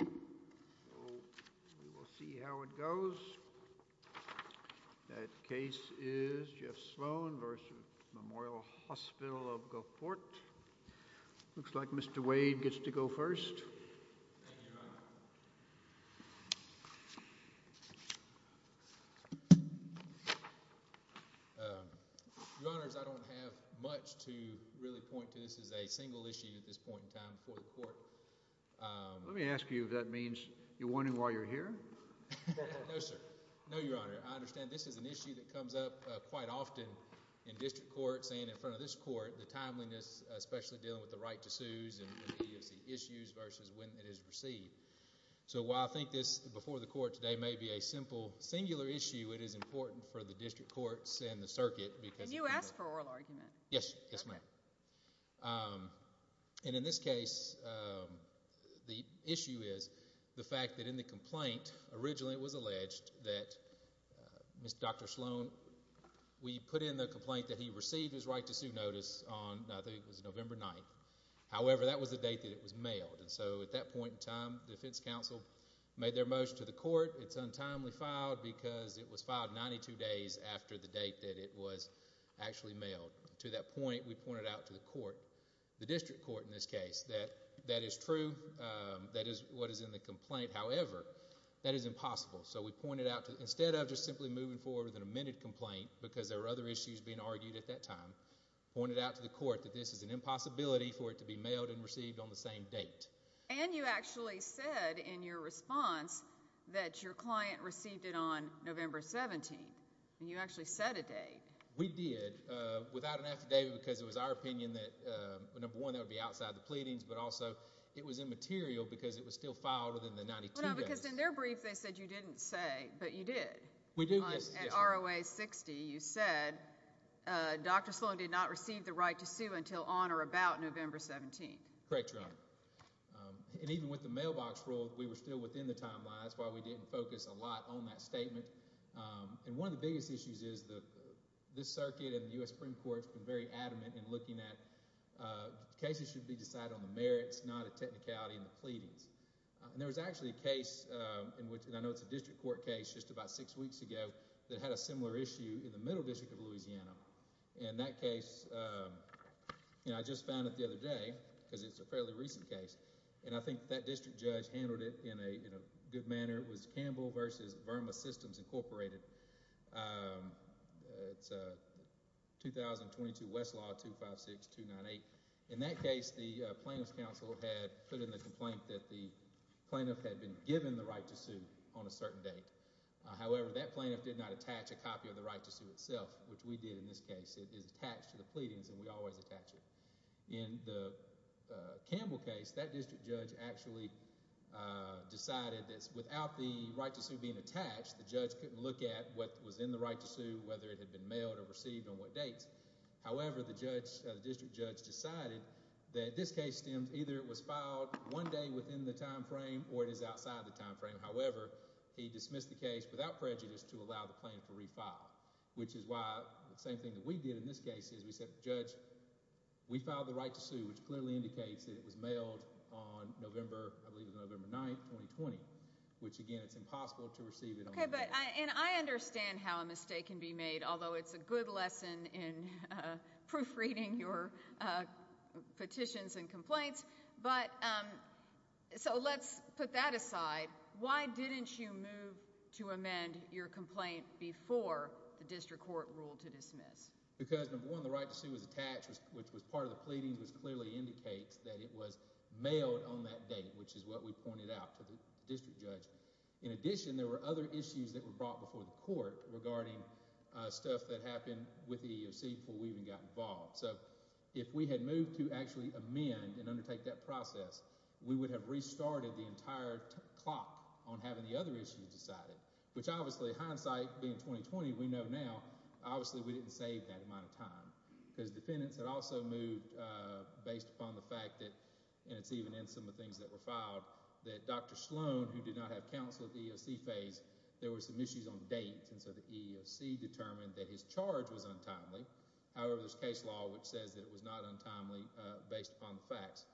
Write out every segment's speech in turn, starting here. We will see how it goes. That case is Jeff Sloan v. Memorial Hospital of Gulfport. Looks like Mr. Wade gets to go first. Thank you, Your Honor. Your Honors, I don't have much to really point to. This is a single issue at this point in time before the court. Let me ask you if that means you're warning while you're here? No, sir. No, Your Honor. I understand this is an issue that comes up quite often in district courts and in front of this court, the timeliness, especially dealing with the right to sues and the issues versus when it is received. So while I think this before the court today may be a simple, singular issue, it is important for the district courts and the circuit because you ask for oral argument. Yes, ma'am. And in this case, the issue is the fact that in the complaint, originally it was alleged that Dr. Sloan, we put in the complaint that he received his right to sue notice on, I think it was November 9th. However, that was the date that it was mailed. So at that point in time, the defense counsel made their motion to the court. It's untimely filed because it was filed 92 days after the date that it was actually that point we pointed out to the court, the district court in this case, that that is true. That is what is in the complaint. However, that is impossible. So we pointed out to, instead of just simply moving forward with an amended complaint because there were other issues being argued at that time, pointed out to the court that this is an impossibility for it to be mailed and received on the same date. And you actually said in your response that your client received it on November 17. And you actually set a date. We did. Without an affidavit, because it was our opinion that, number one, that would be outside the pleadings. But also, it was immaterial because it was still filed within the 92 days. No, because in their brief, they said you didn't say. But you did. We do, yes. At ROA 60, you said, Dr. Sloan did not receive the right to sue until on or about November 17. Correct, Your Honor. And even with the mailbox rule, we were still within the timelines. That's why we didn't focus a lot on that statement. And one of the biggest issues is this circuit in the US Supreme Court's been very adamant in looking at cases should be decided on the merits, not a technicality in the pleadings. And there was actually a case, and I know it's a district court case just about six weeks ago, that had a similar issue in the Middle District of Louisiana. And that case, I just found it the other day because it's a fairly recent case. And I think that district judge handled it in a good manner. It was Campbell versus Verma Systems Incorporated. 2022 Westlaw 256298. In that case, the plaintiff's counsel had put in a complaint that the plaintiff had been given the right to sue on a certain date. However, that plaintiff did not attach a copy of the right to sue itself, which we did in this case. It is attached to the pleadings, and we always attach it. In the Campbell case, that district judge actually decided that without the right to sue being attached, the judge couldn't look at what was in the right to sue, whether it had been mailed or received, on what dates. However, the district judge decided that this case stemmed either it was filed one day within the time frame or it is outside the time frame. However, he dismissed the case without prejudice to allow the plaintiff to refile, which is why the same thing that we did in this case is we said, judge, we filed the right to sue, which clearly indicates that it was mailed on November, I believe it was November 9, 2020, which, again, it's impossible to receive it on a date. And I understand how a mistake can be made, although it's a good lesson in proofreading your petitions and complaints, but so let's put that aside. Why didn't you move to amend your complaint before the district court ruled to dismiss? Because, number one, the right to sue was attached, which was part of the pleadings, which clearly indicates that it was mailed on that date, which is what we pointed out to the district judge. In addition, there were other issues that were brought before the court regarding stuff that happened with the EEOC before we even got involved. So if we had moved to actually amend and undertake that process, we would have restarted the entire clock on having the other issues decided, which, obviously, hindsight being 2020, we know now, obviously, we didn't save that amount of time because defendants had also moved based upon the fact that, and it's even in some of the things that were filed, that Dr. Sloan, who did not have counsel at the EEOC phase, there were some issues on dates, and so the EEOC determined that his charge was untimely. However, there's case law which says that it was not untimely based upon the facts.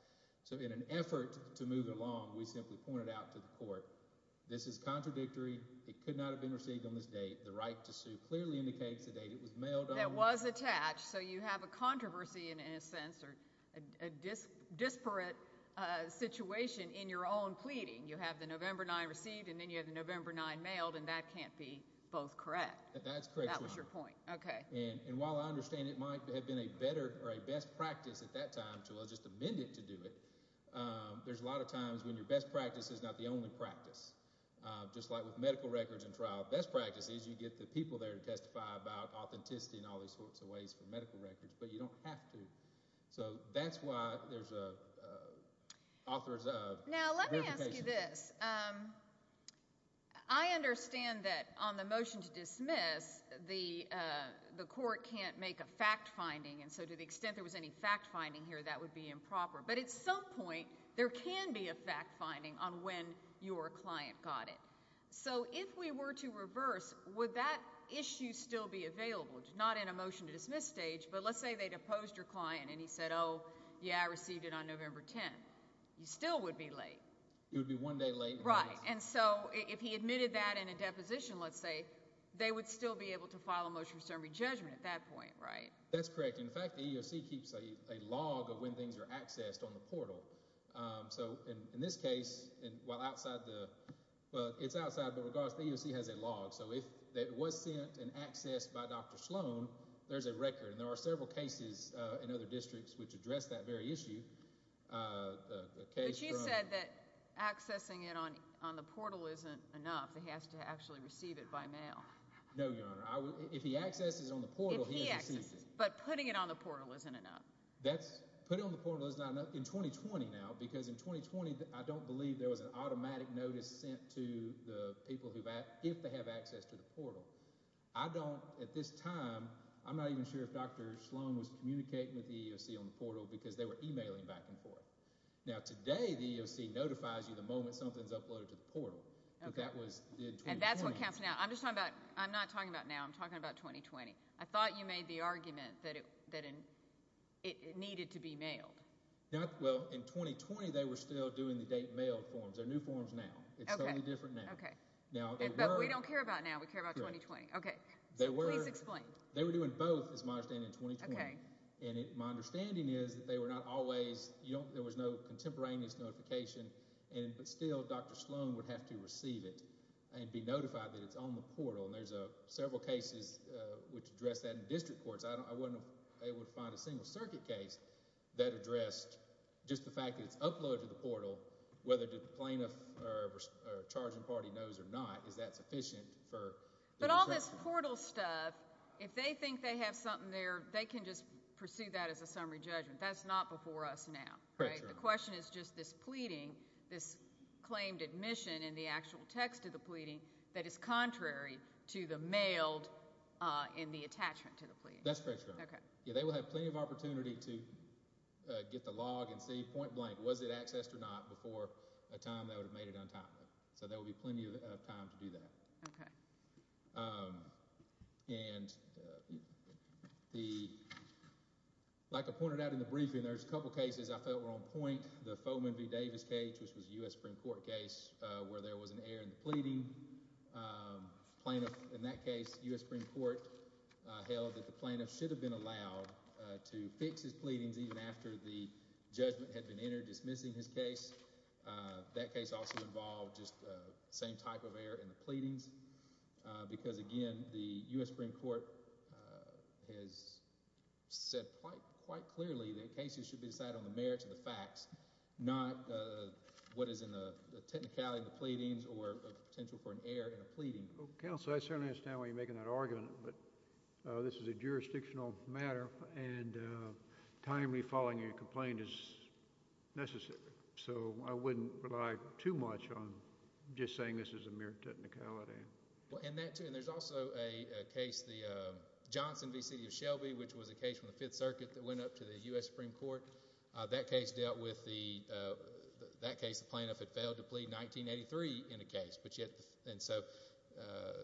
So in an effort to move it along, we simply pointed out to the court, this is contradictory, it could not have been received on this date, the right to sue clearly indicates the date it was mailed on. It was attached, so you have a controversy, in a sense, or a disparate situation in your own pleading. You have the November 9th received, and then you have the November 9th mailed, and that can't be both correct. That's correct, Your Honor. That was your point, okay. And while I understand it might have been a better or a best practice at that time to just amend it to do it, there's a lot of times when your best practice is not the only practice. Just like with medical records and trial, best practice is you get the people there to testify about authenticity and all these sorts of ways for medical records, but you don't have to. So that's why there's authors of verifications. Now, let me ask you this. I understand that on the motion to dismiss, the court can't make a fact-finding, and so to the extent there was any fact-finding here, that would be improper. But at some point, there can be a fact-finding on when your client got it. So if we were to reverse, would that issue still be available? Not in a motion to dismiss stage, but let's say they'd opposed your client and he said, oh, yeah, I received it on November 10th. You still would be late. It would be one day late. Right, and so if he admitted that in a deposition, let's say, they would still be able to file a motion for summary judgment at that point, right? That's correct. In fact, the EEOC keeps a log of when things are accessed on the portal. So in this case, well, it's outside, but regardless, the EEOC has a log. So if it was sent and accessed by Dr. Sloan, there's a record. And there are several cases in other districts which address that very issue, the case from- But you said that accessing it on the portal isn't enough. He has to actually receive it by mail. No, Your Honor. If he accesses it on the portal, he has to receive it. But putting it on the portal isn't enough. That's, putting it on the portal is not enough. In 2020 now, because in 2020, I don't believe there was an automatic notice sent to the people if they have access to the portal. I don't, at this time, I'm not even sure if Dr. Sloan was communicating with the EEOC on the portal because they were emailing back and forth. Now, today, the EEOC notifies you the moment something's uploaded to the portal. But that was in 2020. And that's what counts now. I'm just talking about, I'm not talking about now. I'm talking about 2020. I thought you made the argument that it needed to be mailed. Well, in 2020, they were still doing the date mailed forms. They're new forms now. It's totally different now. Okay. But we don't care about now. We care about 2020. Okay. Please explain. They were doing both, is my understanding, in 2020. And my understanding is that they were not always, there was no contemporaneous notification, but still, Dr. Sloan would have to receive it and be notified that it's on the portal. And there's several cases which address that in district courts. I wasn't able to find a single circuit case that addressed just the fact that it's uploaded to the portal, whether the plaintiff or charging party knows or not, is that sufficient for- But all this portal stuff, if they think they have something there, they can just pursue that as a summary judgment. That's not before us now. Correct, Your Honor. The question is just this pleading, this claimed admission in the actual text of the pleading that is contrary to the mailed in the attachment to the pleading. That's correct, Your Honor. Okay. Yeah, they will have plenty of opportunity to get the log and see point blank, was it accessed or not, before a time they would have made it untimely. So there will be plenty of time to do that. Okay. And the, like I pointed out in the briefing, there's a couple cases I felt were on point. The Foehman v. Davis case, which was a US Supreme Court case where there was an error in the pleading. Plaintiff, in that case, US Supreme Court held that the plaintiff should have been allowed to fix his pleadings even after the judgment had been entered dismissing his case. That case also involved just the same type of error in the pleadings, because again, the US Supreme Court has said quite clearly that cases should be decided on the merits of the facts, not what is in the technicality of the pleadings or the potential for an error in a pleading. Counsel, I certainly understand why you're making that argument, but this is a jurisdictional matter and timely following a complaint is necessary. So I wouldn't rely too much on just saying this is a mere technicality. Well, and that too, and there's also a case, the Johnson v. City of Shelby, which was a case from the Fifth Circuit that went up to the US Supreme Court. That case dealt with the, that case the plaintiff had failed to plead, 1983 in a case, but yet, and so.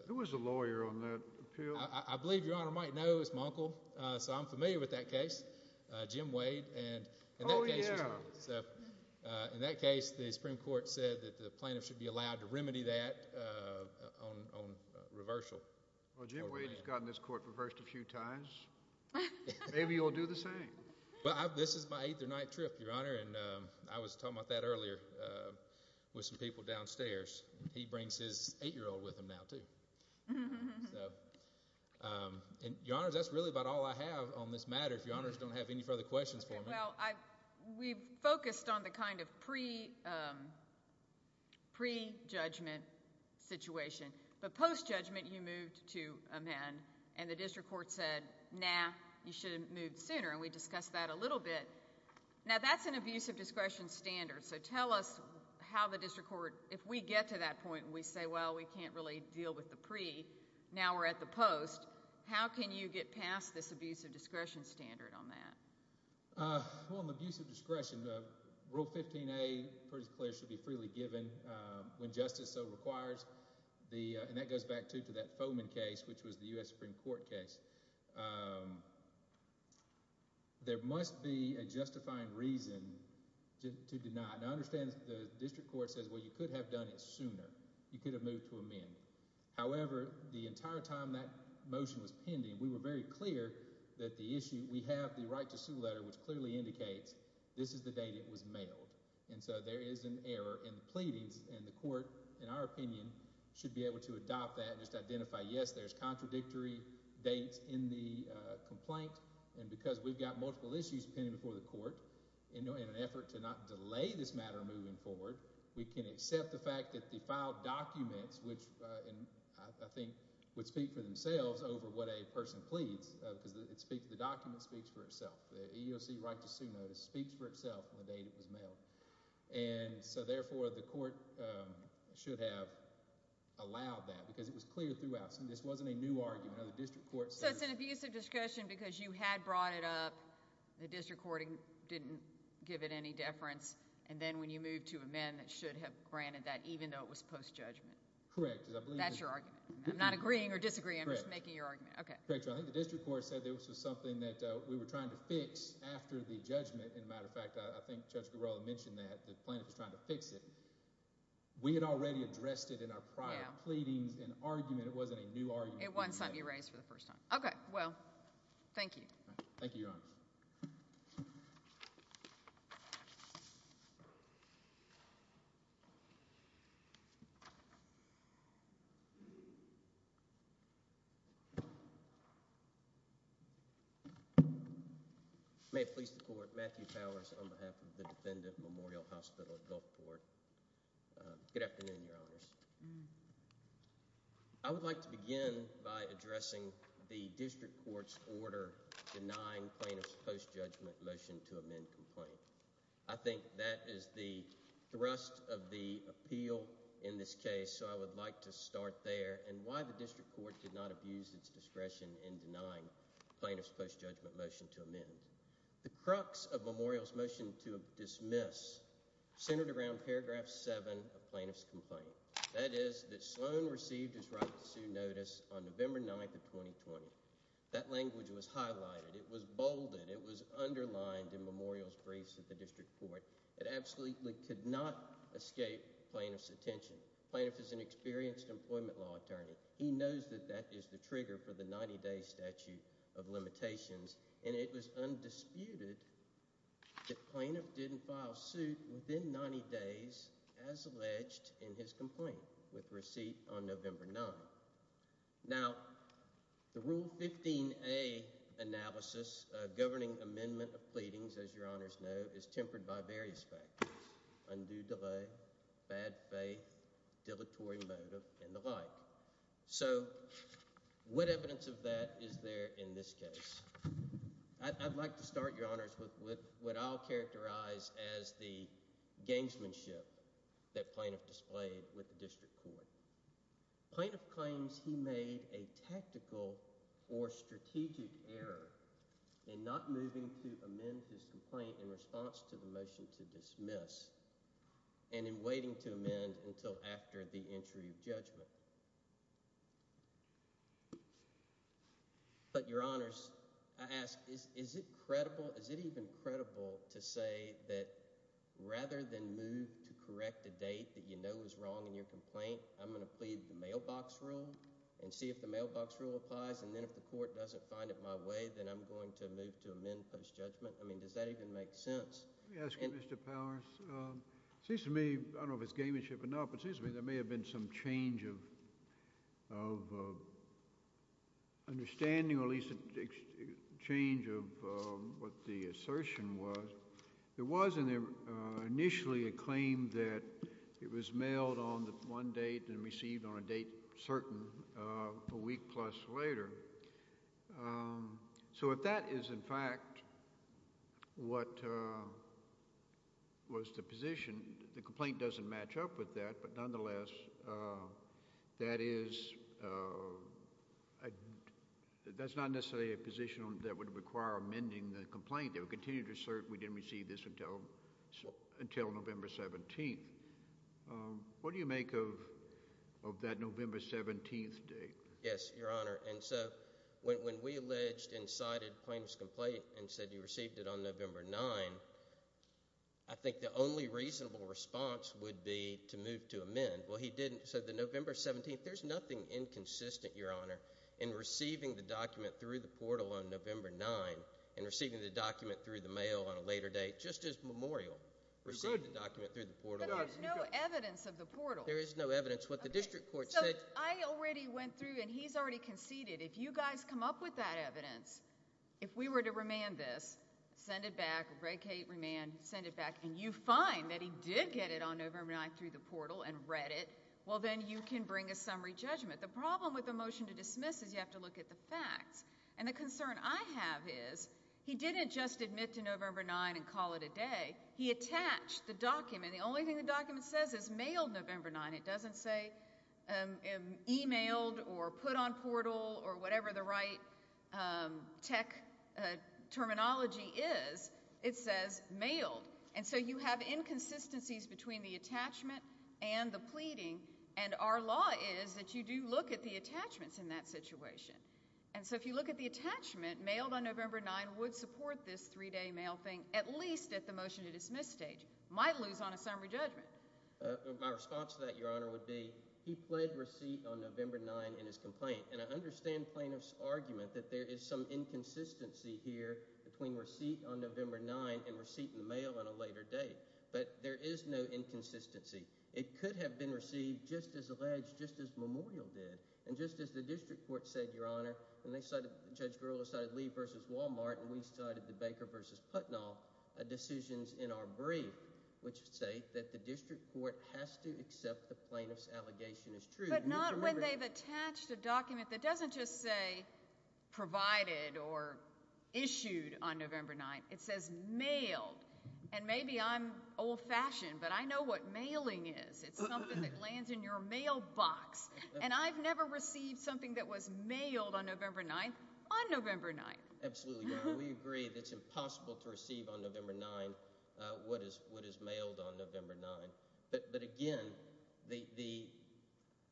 Who was the lawyer on that appeal? I believe Your Honor might know, it was my uncle. So I'm familiar with that case, Jim Wade, and that case was him. Oh, yeah. So in that case, the Supreme Court said that the plaintiff should be allowed to remedy that on reversal. Well, Jim Wade has gotten this court reversed a few times. Maybe he'll do the same. Well, this is my eighth or ninth trip, Your Honor, and I was talking about that earlier with some people downstairs. He brings his eight-year-old with him now, too. And Your Honors, that's really about all I have on this matter, if Your Honors don't have any further questions for me. Well, we've focused on the kind of pre-judgment situation, but post-judgment, you moved to amend, and the district court said, nah, you should have moved sooner, and we discussed that a little bit. Now, that's an abuse of discretion standard, so tell us how the district court, if we get to that point and we say, well, we can't really deal with the pre, now we're at the post, how can you get past this abuse of discretion standard on that? Well, an abuse of discretion, Rule 15a, pretty clear, should be freely given when justice so requires. And that goes back, too, to that Fomen case, which was the U.S. Supreme Court case. There must be a justifying reason to deny it, and I understand the district court says, well, you could have done it sooner. You could have moved to amend. However, the entire time that motion was pending, we were very clear that the issue, we have the right to sue letter, which clearly indicates this is the date it was mailed. And so there is an error in the pleadings, and the court, in our opinion, should be able to adopt that and just identify, yes, there's contradictory dates in the complaint, and because we've got multiple issues pending before the court, in an effort to not delay this matter moving forward, we can accept the fact that the filed documents, which I think would speak for themselves over what a person pleads, because the document speaks for itself. The EEOC right to sue notice speaks for itself on the date it was mailed. And so therefore, the court should have allowed that, because it was clear throughout, so this wasn't a new argument. Now, the district court says- So it's an abusive discussion because you had brought it up, the district court didn't give it any deference, and then when you moved to amend, it should have granted that, even though it was post-judgment. Correct, because I believe- That's your argument. I'm not agreeing or disagreeing, I'm just making your argument, okay. Correct, I think the district court said that this was something that we were trying to fix after the judgment, and as a matter of fact, I think Judge Garrella mentioned that, the plaintiff was trying to fix it. We had already addressed it in our prior pleadings, an argument, it wasn't a new argument. It wasn't something you raised for the first time. Okay, well, thank you. Thank you, Your Honor. May it please the court, Matthew Powers, on behalf of the Defendant Memorial Hospital at Gulfport. Good afternoon, Your Honors. I would like to begin by addressing the district court's order denying plaintiff's post-judgment motion to amend complaint. I think that is the thrust of the appeal in this case, so I would like to start there, and why the district court did not abuse its discretion in denying plaintiff's post-judgment motion to amend. The crux of Memorial's motion to dismiss centered around paragraph seven of plaintiff's complaint, that is that Sloan received his right to sue notice on November 9th of 2020. That language was highlighted, it was bolded, it was underlined in Memorial's briefs at the district court. It absolutely could not escape plaintiff's attention. Plaintiff is an experienced employment law attorney. He knows that that is the trigger for the 90-day statute of limitations, and it was undisputed that plaintiff didn't file suit within 90 days as alleged in his complaint with receipt on November 9th. Now, the Rule 15a analysis, governing amendment of pleadings, as Your Honors know, is tempered by various factors, undue delay, bad faith, dilatory motive, and the like. So what evidence of that is there in this case? I'd like to start, Your Honors, with what I'll characterize as the gangsmanship that plaintiff displayed with the district court. Plaintiff claims he made a tactical or strategic error in not moving to amend his complaint in response to the motion to dismiss, and in waiting to amend until after the entry of judgment. But, Your Honors, I ask, is it credible, is it even credible to say that rather than move to correct a date that you know is wrong in your complaint, I'm gonna plead the mailbox rule and see if the mailbox rule applies, and then if the court doesn't find it my way, then I'm going to move to amend post-judgment? I mean, does that even make sense? Let me ask you, Mr. Powers. It seems to me, I don't know if it's gangsmanship or not, but it seems to me there may have been some change of understanding, or at least a change of what the assertion was. There was initially a claim that it was mailed on one date and received on a date certain, a week plus later. So if that is, in fact, what was the position, the complaint doesn't match up with that, but nonetheless, that is, that's not necessarily a position that would require amending the complaint. They would continue to assert we didn't receive this until November 17th. What do you make of that November 17th date? Yes, Your Honor, and so when we alleged and cited plaintiff's complaint, and said you received it on November 9th, I think the only reasonable response would be to move to amend. Well, he didn't, so the November 17th, there's nothing inconsistent, Your Honor, in receiving the document through the portal on November 9th, and receiving the document through the mail on a later date, just as Memorial received the document through the portal. But there's no evidence of the portal. There is no evidence. What the district court said. I already went through, and he's already conceded. If you guys come up with that evidence, if we were to remand this, send it back, break it, remand, send it back, and you find that he did get it on November 9th through the portal and read it, well, then you can bring a summary judgment. The problem with the motion to dismiss is you have to look at the facts, and the concern I have is he didn't just admit to November 9th and call it a day. He attached the document. The only thing the document says is mailed November 9th. And it doesn't say emailed or put on portal or whatever the right tech terminology is. It says mailed. And so you have inconsistencies between the attachment and the pleading. And our law is that you do look at the attachments in that situation. And so if you look at the attachment, mailed on November 9th would support this three-day mail thing, at least at the motion to dismiss stage. Might lose on a summary judgment. My response to that, Your Honor, would be he pled receipt on November 9th in his complaint. And I understand plaintiff's argument that there is some inconsistency here between receipt on November 9th and receipt in the mail on a later date. But there is no inconsistency. It could have been received just as alleged, just as Memorial did. And just as the district court said, Your Honor, and Judge Grillo cited Lee v. Walmart, and we cited the Baker v. Putnam decisions in our brief, which say that the district court has to accept the plaintiff's allegation as true. But not when they've attached a document that doesn't just say provided or issued on November 9th. It says mailed. And maybe I'm old-fashioned, but I know what mailing is. It's something that lands in your mailbox. And I've never received something that was mailed on November 9th on November 9th. Absolutely, Your Honor. We agree that it's impossible to receive on November 9th what is mailed on November 9th. But again,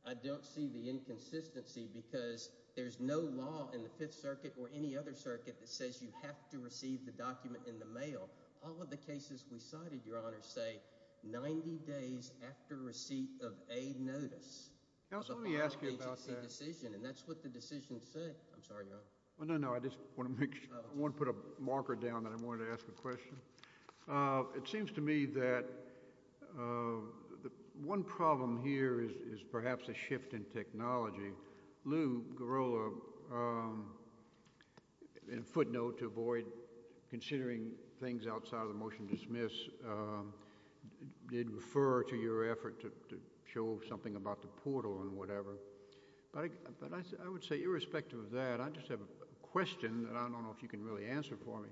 I don't see the inconsistency because there's no law in the Fifth Circuit or any other circuit that says you have to receive the document in the mail. All of the cases we cited, Your Honor, say 90 days after receipt of a notice. There's a lot of things that say decision, and that's what the decision said. I'm sorry, Your Honor. Well, no, no, I just wanna put a marker down that I wanted to ask a question. It seems to me that one problem here is perhaps a shift in technology. Lou Girola, in footnote to avoid considering things outside of the motion to dismiss, did refer to your effort to show something about the portal and whatever. But I would say, irrespective of that, I just have a question that I don't know if you can really answer for me.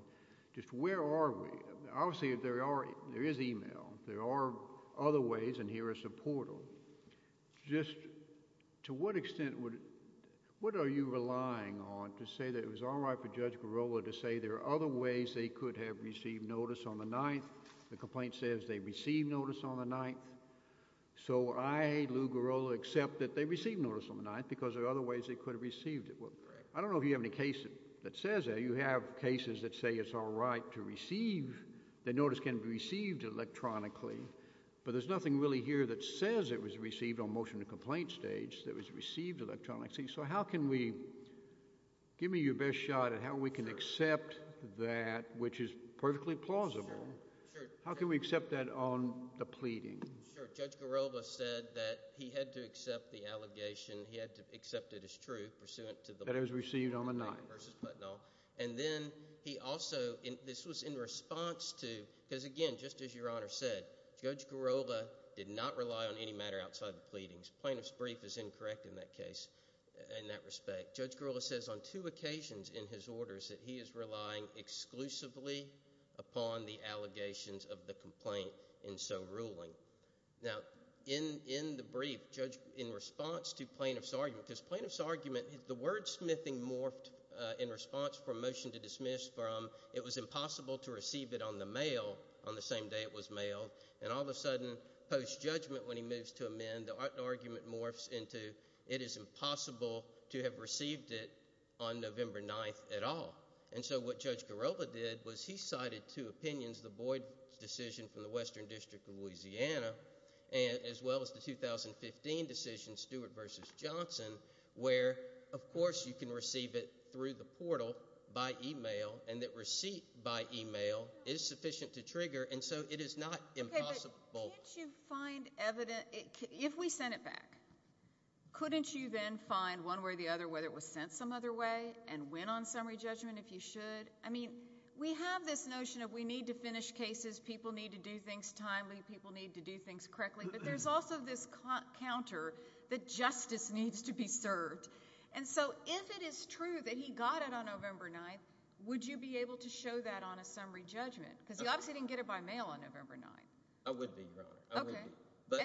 Just where are we? Obviously, there is email. There are other ways, and here is a portal. Just to what extent, what are you relying on to say that it was all right for Judge Girola to say there are other ways they could have received notice on the 9th? The complaint says they received notice on the 9th. So I, Lou Girola, accept that they received notice on the 9th because there are other ways they could have received it. I don't know if you have any case that says that. You have cases that say it's all right to receive, the notice can be received electronically, but there's nothing really here that says it was received on motion to complaint stage that was received electronically. So how can we, give me your best shot at how we can accept that, which is perfectly plausible. How can we accept that on the pleading? Sure, Judge Girola said that he had to accept the allegation, he had to accept it as true, pursuant to the- That it was received on the 9th. 9th versus Putnam, and then he also, this was in response to, because again, just as your Honor said, Judge Girola did not rely on any matter outside of pleadings. Plaintiff's brief is incorrect in that case, in that respect. Judge Girola says on two occasions in his orders that he is relying exclusively upon the allegations of the complaint in so ruling. Now, in the brief, Judge, in response to plaintiff's argument because plaintiff's argument, the wordsmithing morphed in response for a motion to dismiss from, it was impossible to receive it on the mail on the same day it was mailed, and all of a sudden, post-judgment, when he moves to amend, the argument morphs into, it is impossible to have received it on November 9th at all. And so what Judge Girola did was he cited two opinions, the Boyd decision from the Western District of Louisiana, as well as the 2015 decision, Stewart versus Johnson, where, of course, you can receive it through the portal by email, and that receipt by email is sufficient to trigger, and so it is not impossible. Can't you find evidence, if we sent it back, couldn't you then find one way or the other whether it was sent some other way and went on summary judgment if you should? I mean, we have this notion of we need to finish cases, people need to do things timely, people need to do things correctly, but there's also this counter that justice needs to be served. And so if it is true that he got it on November 9th, would you be able to show that on a summary judgment? Because he obviously didn't get it by mail on November 9th. I would be, Your Honor, I would be. But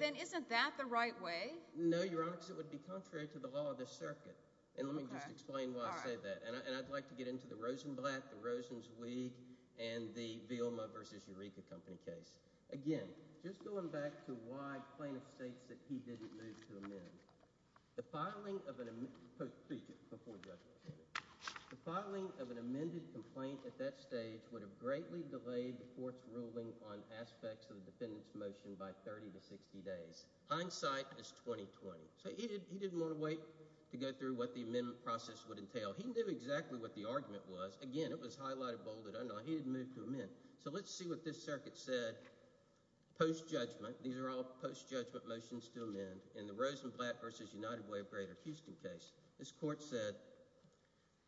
then isn't that the right way? No, Your Honor, because it would be contrary to the law of the circuit. And let me just explain why I say that. And I'd like to get into the Rosenblatt, the Rosenzweig, and the Vilma versus Eureka company case. Again, just going back to why plaintiff states that he didn't move to amend. The filing of an, speech, before judgment. The filing of an amended complaint at that stage would have greatly delayed the court's ruling on aspects of the defendant's motion by 30 to 60 days. Hindsight is 20-20. So he didn't want to wait to go through what the amendment process would entail. He knew exactly what the argument was. Again, it was highlighted, bolded, unknown. He didn't move to amend. So let's see what this circuit said post-judgment. These are all post-judgment motions to amend. In the Rosenblatt versus United Way of Greater Houston case, this court said,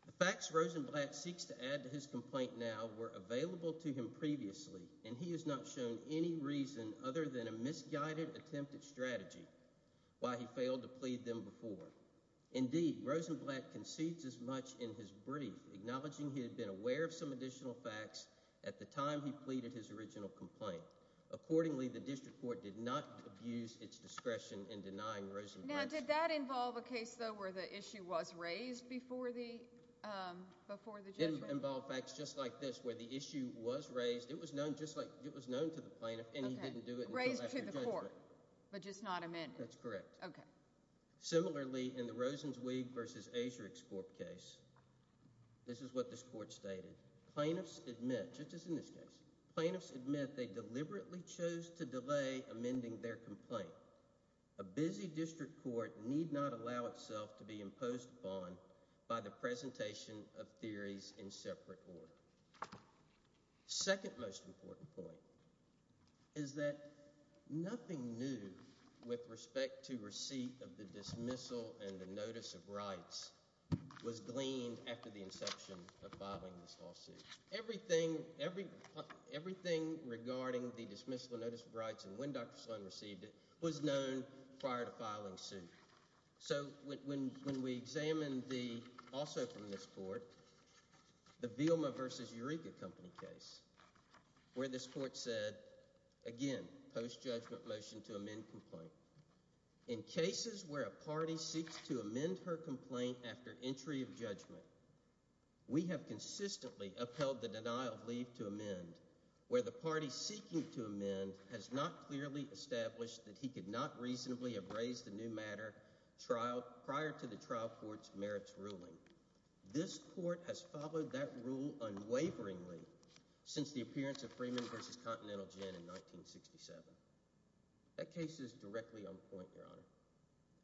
the facts Rosenblatt seeks to add to his complaint now were available to him previously, and he has not shown any reason other than a misguided attempt at strategy why he failed to plead them before. Indeed, Rosenblatt concedes as much in his brief, acknowledging he had been aware of some additional facts at the time he pleaded his original complaint. Accordingly, the district court did not abuse its discretion in denying Rosenblatt's... Now, did that involve a case, though, where the issue was raised before the judgment? Involved facts just like this, where the issue was raised. It was known to the plaintiff, and he didn't do it until after judgment. Raised to the court, but just not amended. That's correct. Similarly, in the Rosens-Weig versus Asherix Corp case, this is what this court stated. Plaintiffs admit, just as in this case, plaintiffs admit they deliberately chose to delay amending their complaint. A busy district court need not allow itself to be imposed upon by the presentation of theories in separate order. Second most important point is that nothing new with respect to receipt of the dismissal and the notice of rights was gleaned after the inception of filing this lawsuit. Everything regarding the dismissal and notice of rights and when Dr. Sloan received it was known prior to filing suit. So when we examine the, also from this court, the Vilma versus Eureka Company case, where this court said, again, post-judgment motion to amend complaint. In cases where a party seeks to amend her complaint after entry of judgment, we have consistently upheld the denial of leave to amend where the party seeking to amend has not clearly established that he could not reasonably have raised the new matter prior to the trial court's merits ruling. This court has followed that rule unwaveringly since the appearance of Freeman versus Continental Gin in 1967. That case is directly on point, Your Honor.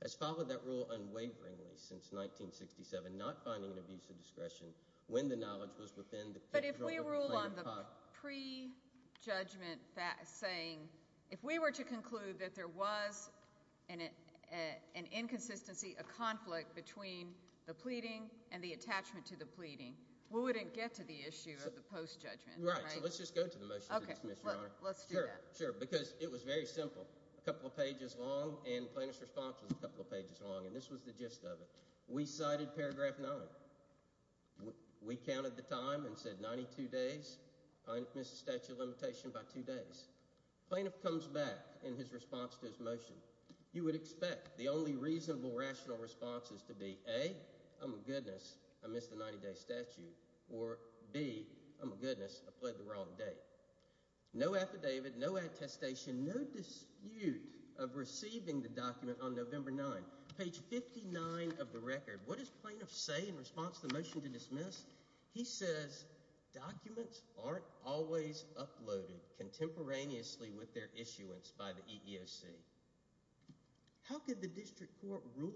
Has followed that rule unwaveringly since 1967, and not finding an abuse of discretion when the knowledge was within the control of the plaintiff. But if we rule on the pre-judgment saying, if we were to conclude that there was an inconsistency, a conflict between the pleading and the attachment to the pleading, we wouldn't get to the issue of the post-judgment, right? Right, so let's just go to the motion to dismiss, Your Honor. Let's do that. Sure, sure, because it was very simple. A couple of pages long, and plaintiff's response was a couple of pages long, and this was the gist of it. We cited paragraph nine. We counted the time and said 92 days. Plaintiff missed the statute of limitation by two days. Plaintiff comes back in his response to his motion. You would expect the only reasonable, rational response is to be, A, oh my goodness, I missed the 90-day statute, or B, oh my goodness, I pled the wrong date. No affidavit, no attestation, no dispute of receiving the document on November 9th. Page 59 of the record, what does plaintiff say in response to the motion to dismiss? He says, documents aren't always uploaded contemporaneously with their issuance by the EEOC. How could the district court rule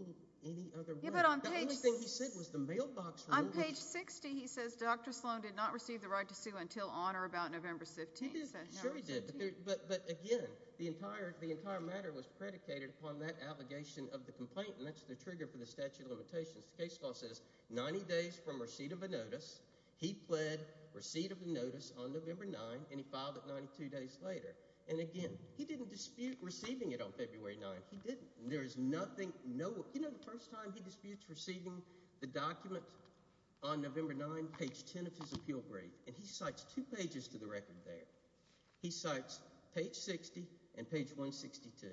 any other way? The only thing he said was the mailbox rule. On page 60, he says, Dr. Sloan did not receive the right to sue until on or about November 15th. He did, sure he did, but again, the entire matter was predicated upon that allegation of the complaint, and that's the trigger for the statute of limitations. The case law says 90 days from receipt of a notice, he pled receipt of the notice on November 9th, and he filed it 92 days later. And again, he didn't dispute receiving it on February 9th. He didn't. There is nothing, no, you know the first time he disputes receiving the document on November 9th, page 10 of his appeal brief, and he cites two pages to the record there. He cites page 60 and page 162.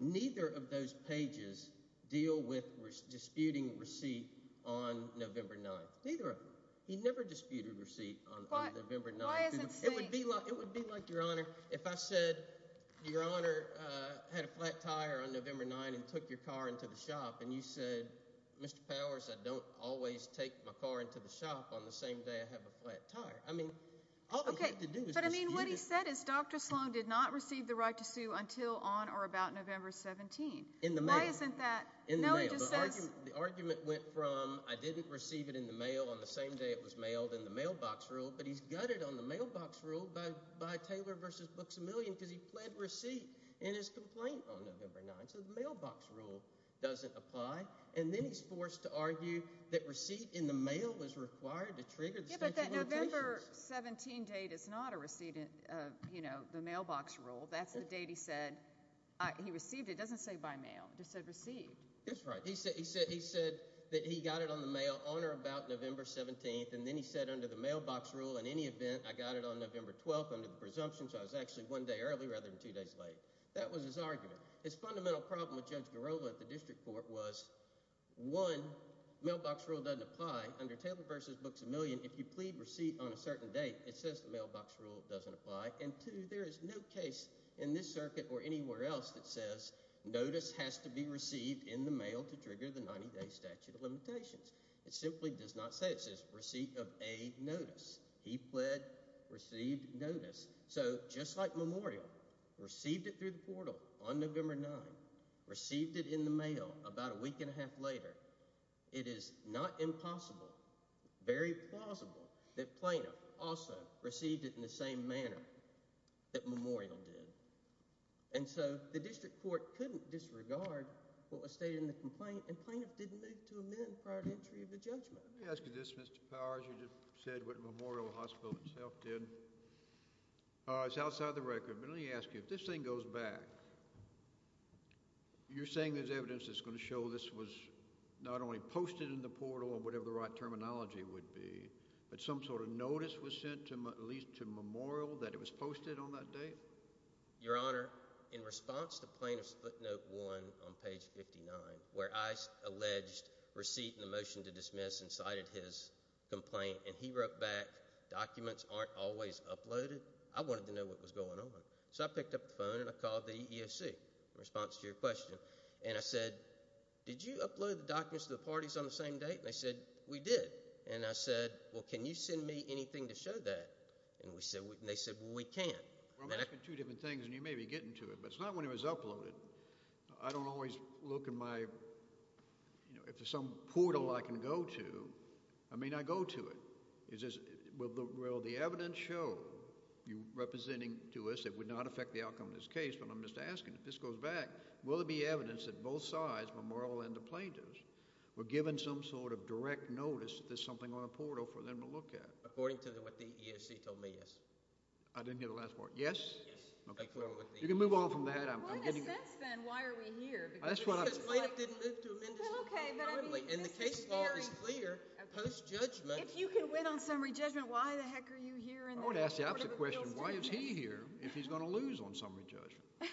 Neither of those pages deal with disputing receipt on November 9th. Neither of them. He never disputed receipt on November 9th. It would be like, Your Honor, if I said, Your Honor, had a flat tire on November 9th and took your car into the shop, and you said, Mr. Powers, I don't always take my car into the shop on the same day I have a flat tire. I mean, all you have to do is dispute it. But I mean, what he said is, Dr. Sloan did not receive the right to sue until on or about November 17th. In the mail. Why isn't that? No, he just says. The argument went from, I didn't receive it in the mail on the same day it was mailed in the mailbox rule, but he's gutted on the mailbox rule by Taylor versus Books A Million because he pled receipt in his complaint on November 9th. So the mailbox rule doesn't apply. And then he's forced to argue that receipt in the mail was required to trigger the statute of limitations. Yeah, but that November 17 date is not a receipt, you know, the mailbox rule. That's the date he said he received it. It doesn't say by mail, it just said received. That's right. He said that he got it on the mail on or about November 17th. And then he said under the mailbox rule, in any event, I got it on November 12th under the presumption. So I was actually one day early rather than two days late. That was his argument. His fundamental problem with Judge Garola at the district court was, one, mailbox rule doesn't apply under Taylor versus Books A Million. If you plead receipt on a certain date, it says the mailbox rule doesn't apply. And two, there is no case in this circuit or anywhere else that says notice has to be received in the mail to trigger the 90 day statute of limitations. It simply does not say, it says receipt of a notice. He pled, received notice. So just like Memorial received it through the portal on November 9th, received it in the mail about a week and a half later, it is not impossible, very plausible that Plaintiff also received it in the same manner that Memorial did. And so the district court couldn't disregard what was stated in the complaint and Plaintiff didn't move to amend prior to entry of the judgment. Let me ask you this, Mr. Powers. You just said what Memorial Hospital itself did. All right, it's outside the record, but let me ask you, if this thing goes back, you're saying there's evidence that's gonna show this was not only posted in the portal or whatever the right terminology would be, but some sort of notice was sent at least to Memorial that it was posted on that date? Your Honor, in response to Plaintiff's footnote one on page 59, where I alleged receipt and the motion to dismiss and cited his complaint and he wrote back, documents aren't always uploaded, I wanted to know what was going on. So I picked up the phone and I called the EEOC in response to your question. And I said, did you upload the documents to the parties on the same date? And they said, we did. And I said, well, can you send me anything to show that? And they said, well, we can't. Well, that's been two different things and you may be getting to it, but it's not when it was uploaded. I don't always look in my, if there's some portal I can go to, I may not go to it. Is this, will the evidence show you representing to us it would not affect the outcome of this case, but I'm just asking, if this goes back, will there be evidence that both sides, Memorial and the plaintiffs, were given some sort of direct notice that there's something on a portal for them to look at? According to what the EEOC told me, yes. I didn't hear the last part. Yes? Yes. Okay, cool. You can move on from that. What is this then? Why are we here? Because the plaintiff didn't move to amend this normally. And the case law is clear post-judgment. If you can win on summary judgment, why the heck are you here? I would ask the opposite question. Why is he here if he's going to lose on summary judgment?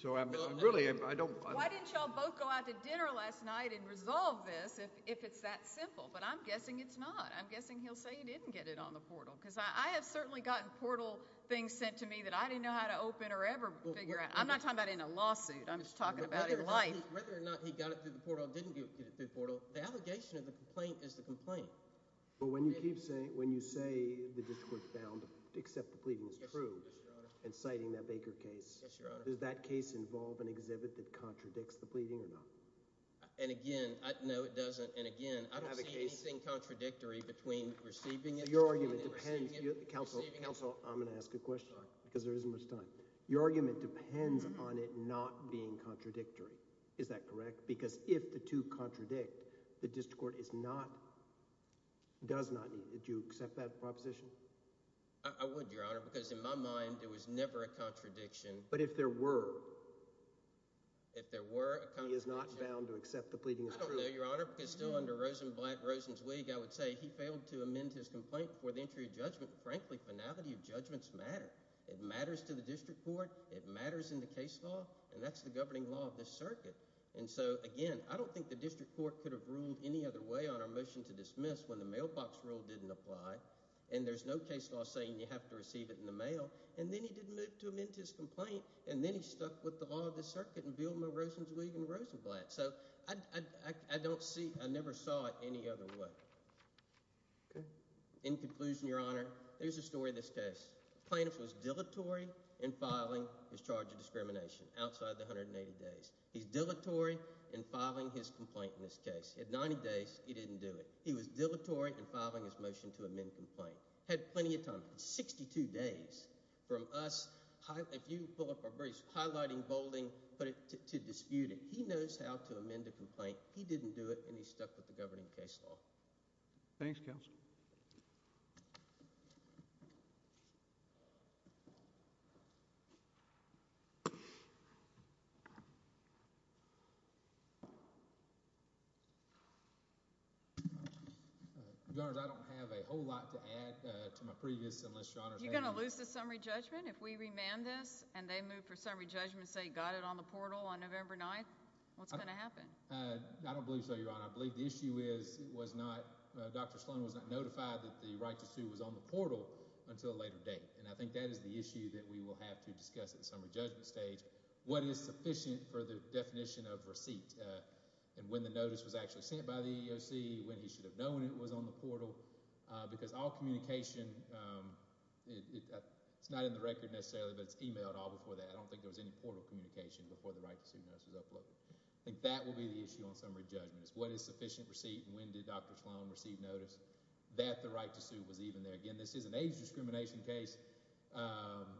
So I'm really, I don't. Why didn't y'all both go out to dinner last night and resolve this if it's that simple? But I'm guessing it's not. I'm guessing he'll say he didn't get it on the portal. Because I have certainly gotten portal things sent to me that I didn't know how to open or ever figure out. I'm not talking about in a lawsuit. I'm just talking about in life. Whether or not he got it through the portal or didn't get it through the portal, the allegation of the complaint is the complaint. But when you keep saying, when you say the district court found, except the pleading was true, and citing that Baker case, does that case involve an exhibit that contradicts the pleading or not? And again, no it doesn't. And again, I don't see anything contradictory between receiving it. Your argument depends. Counsel, I'm gonna ask a question because there isn't much time. Your argument depends on it not being contradictory. Is that correct? Because if the two contradict, the district court is not, does not need. Did you accept that proposition? I would, Your Honor, because in my mind, it was never a contradiction. But if there were. If there were a contradiction. He is not bound to accept the pleading as true. I don't know, Your Honor, because still under Rosenblatt, Rosenzweig, I would say he failed to amend his complaint before the entry of judgment. Frankly, finality of judgments matter. It matters to the district court. It matters in the case law. And that's the governing law of this circuit. And so again, I don't think the district court could have ruled any other way on our motion to dismiss when the mailbox rule didn't apply. And there's no case law saying you have to receive it in the mail. And then he didn't move to amend his complaint. And then he stuck with the law of the circuit and Bill Rosenzweig and Rosenblatt. So I don't see, I never saw it any other way. In conclusion, Your Honor, there's a story of this case. Plaintiff was dilatory in filing his charge of discrimination outside the 180 days. He's dilatory in filing his complaint in this case. He had 90 days, he didn't do it. He was dilatory in filing his motion to amend complaint. Had plenty of time, 62 days from us, if you pull up our briefs, highlighting, bolding, put it to dispute it. He knows how to amend a complaint. He didn't do it and he stuck with the governing case law. Thanks counsel. Your Honor, I don't have a whole lot to add to my previous enlist, Your Honor. You're gonna lose the summary judgment if we remand this and they move for summary judgment and say, got it on the portal on November 9th? What's gonna happen? I don't believe so, Your Honor. I believe the issue is it was not, Dr. Sloan was not notified that the right to sue was on the portal until a later date. And I think that is the issue that we will have to discuss at the summary judgment stage. What is sufficient for the definition of receipt and when the notice was actually sent by the EEOC, when he should have known it was on the portal, because all communication, it's not in the record necessarily, but it's emailed all before that. I don't think there was any portal communication before the right to sue notice was uploaded. I think that will be the issue on summary judgment is what is sufficient receipt and when did Dr. Sloan receive notice that the right to sue was even there. Again, this is an age discrimination case.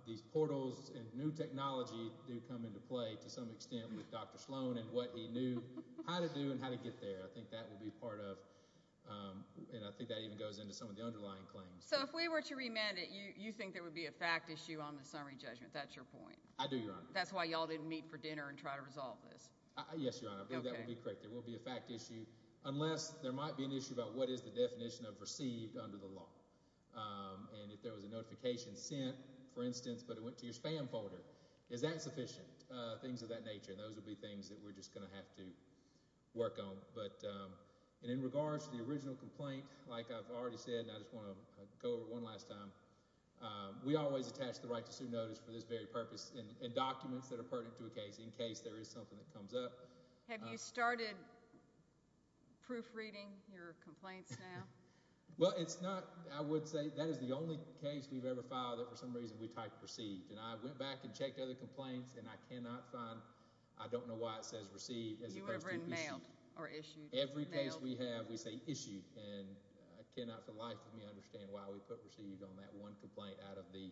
These portals and new technology do come into play to some extent with Dr. Sloan and what he knew how to do and how to get there. I think that will be part of, and I think that even goes into some of the underlying claims. So if we were to remand it, you think there would be a fact issue on the summary judgment, that's your point? That's why y'all didn't meet for dinner and try to resolve this. Yes, Your Honor. I believe that would be correct. There will be a fact issue, unless there might be an issue about what is the definition of received under the law. And if there was a notification sent, for instance, but it went to your spam folder, is that sufficient? Things of that nature. And those would be things that we're just gonna have to work on. But in regards to the original complaint, like I've already said, and I just wanna go over one last time, we always attach the right to sue notice for this very purpose and documents that are pertinent to a case in case there is something that comes up. Have you started proofreading your complaints now? Well, it's not, I would say, that is the only case we've ever filed that for some reason we typed received. And I went back and checked other complaints and I cannot find, I don't know why it says received as opposed to issued. You ever mailed or issued? Every case we have, we say issued. And I cannot for the life of me understand why we put received on that one complaint out of the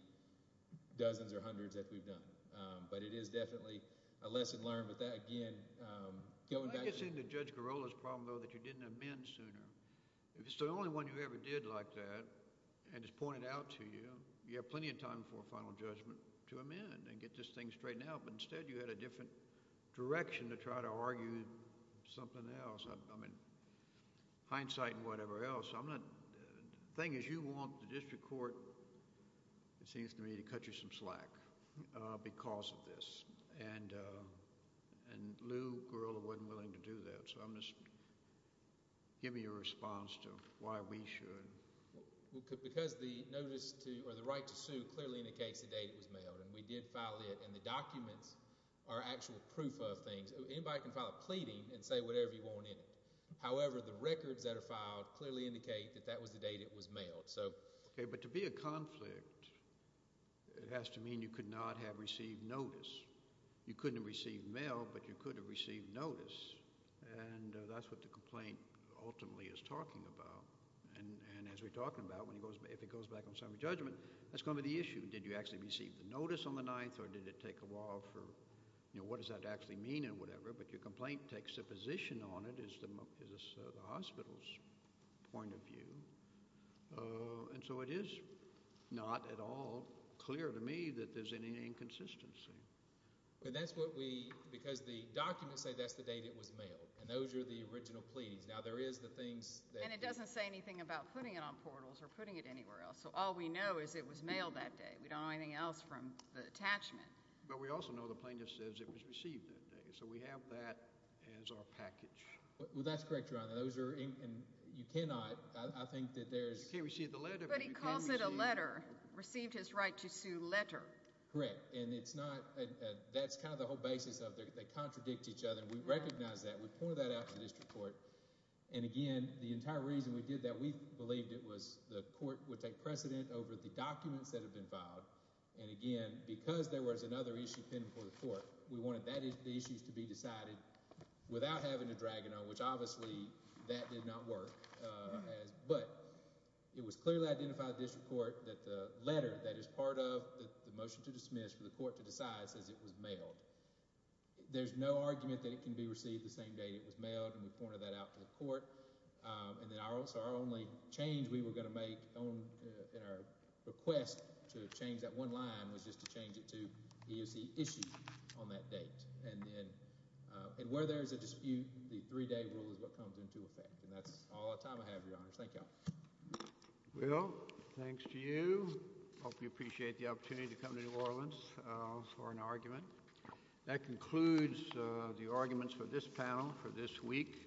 dozens or hundreds that we've done. But it is definitely a lesson learned with that. Again, going back to- I think it's in the Judge Garola's problem though that you didn't amend sooner. If it's the only one you ever did like that and it's pointed out to you, you have plenty of time for a final judgment to amend and get this thing straightened out. But instead you had a different direction to try to argue something else. I mean, hindsight and whatever else. I'm not, the thing is you want the district court it seems to me to cut you some slack because of this. And Lou Garola wasn't willing to do that. So I'm just, give me a response to why we should. Well, because the notice to, or the right to sue clearly indicates the date it was mailed and we did file it and the documents are actual proof of things. Anybody can file a pleading and say whatever you want in it. clearly indicate that that was the date it was mailed. So, okay. But to be a conflict, it has to mean you could not have received notice. You couldn't have received mail, but you could have received notice. And that's what the complaint ultimately is talking about. And as we're talking about when he goes, if it goes back on summary judgment, that's gonna be the issue. Did you actually receive the notice on the ninth or did it take a while for, you know, what does that actually mean and whatever, but your complaint takes a position on it is the hospital's point of view. And so it is not at all clear to me that there's any inconsistency. But that's what we, because the documents say that's the date it was mailed and those are the original pleadings. Now there is the things that- And it doesn't say anything about putting it on portals or putting it anywhere else. So all we know is it was mailed that day. We don't know anything else from the attachment. But we also know the plaintiff says it was received that day. So we have that as our package. Well, that's correct, Your Honor. Those are, and you cannot, I think that there's- But he calls it a letter. Received his right to sue letter. Correct. And it's not, that's kind of the whole basis of it. They contradict each other and we recognize that. We pointed that out to the district court. And again, the entire reason we did that, we believed it was the court would take precedent over the documents that have been filed. And again, because there was another issue pending for the court, we wanted the issues to be decided without having to drag it on, which obviously that did not work. But it was clearly identified at district court that the letter that is part of the motion to dismiss for the court to decide says it was mailed. There's no argument that it can be received the same day it was mailed and we pointed that out to the court. And then our only change we were gonna make in our request to change that one line was just to change it to EOC issued on that date. And where there's a dispute, the three-day rule is what comes into effect. And that's all the time I have, Your Honors. Thank y'all. Well, thanks to you. Hope you appreciate the opportunity to come to New Orleans for an argument. That concludes the arguments for this panel for this week.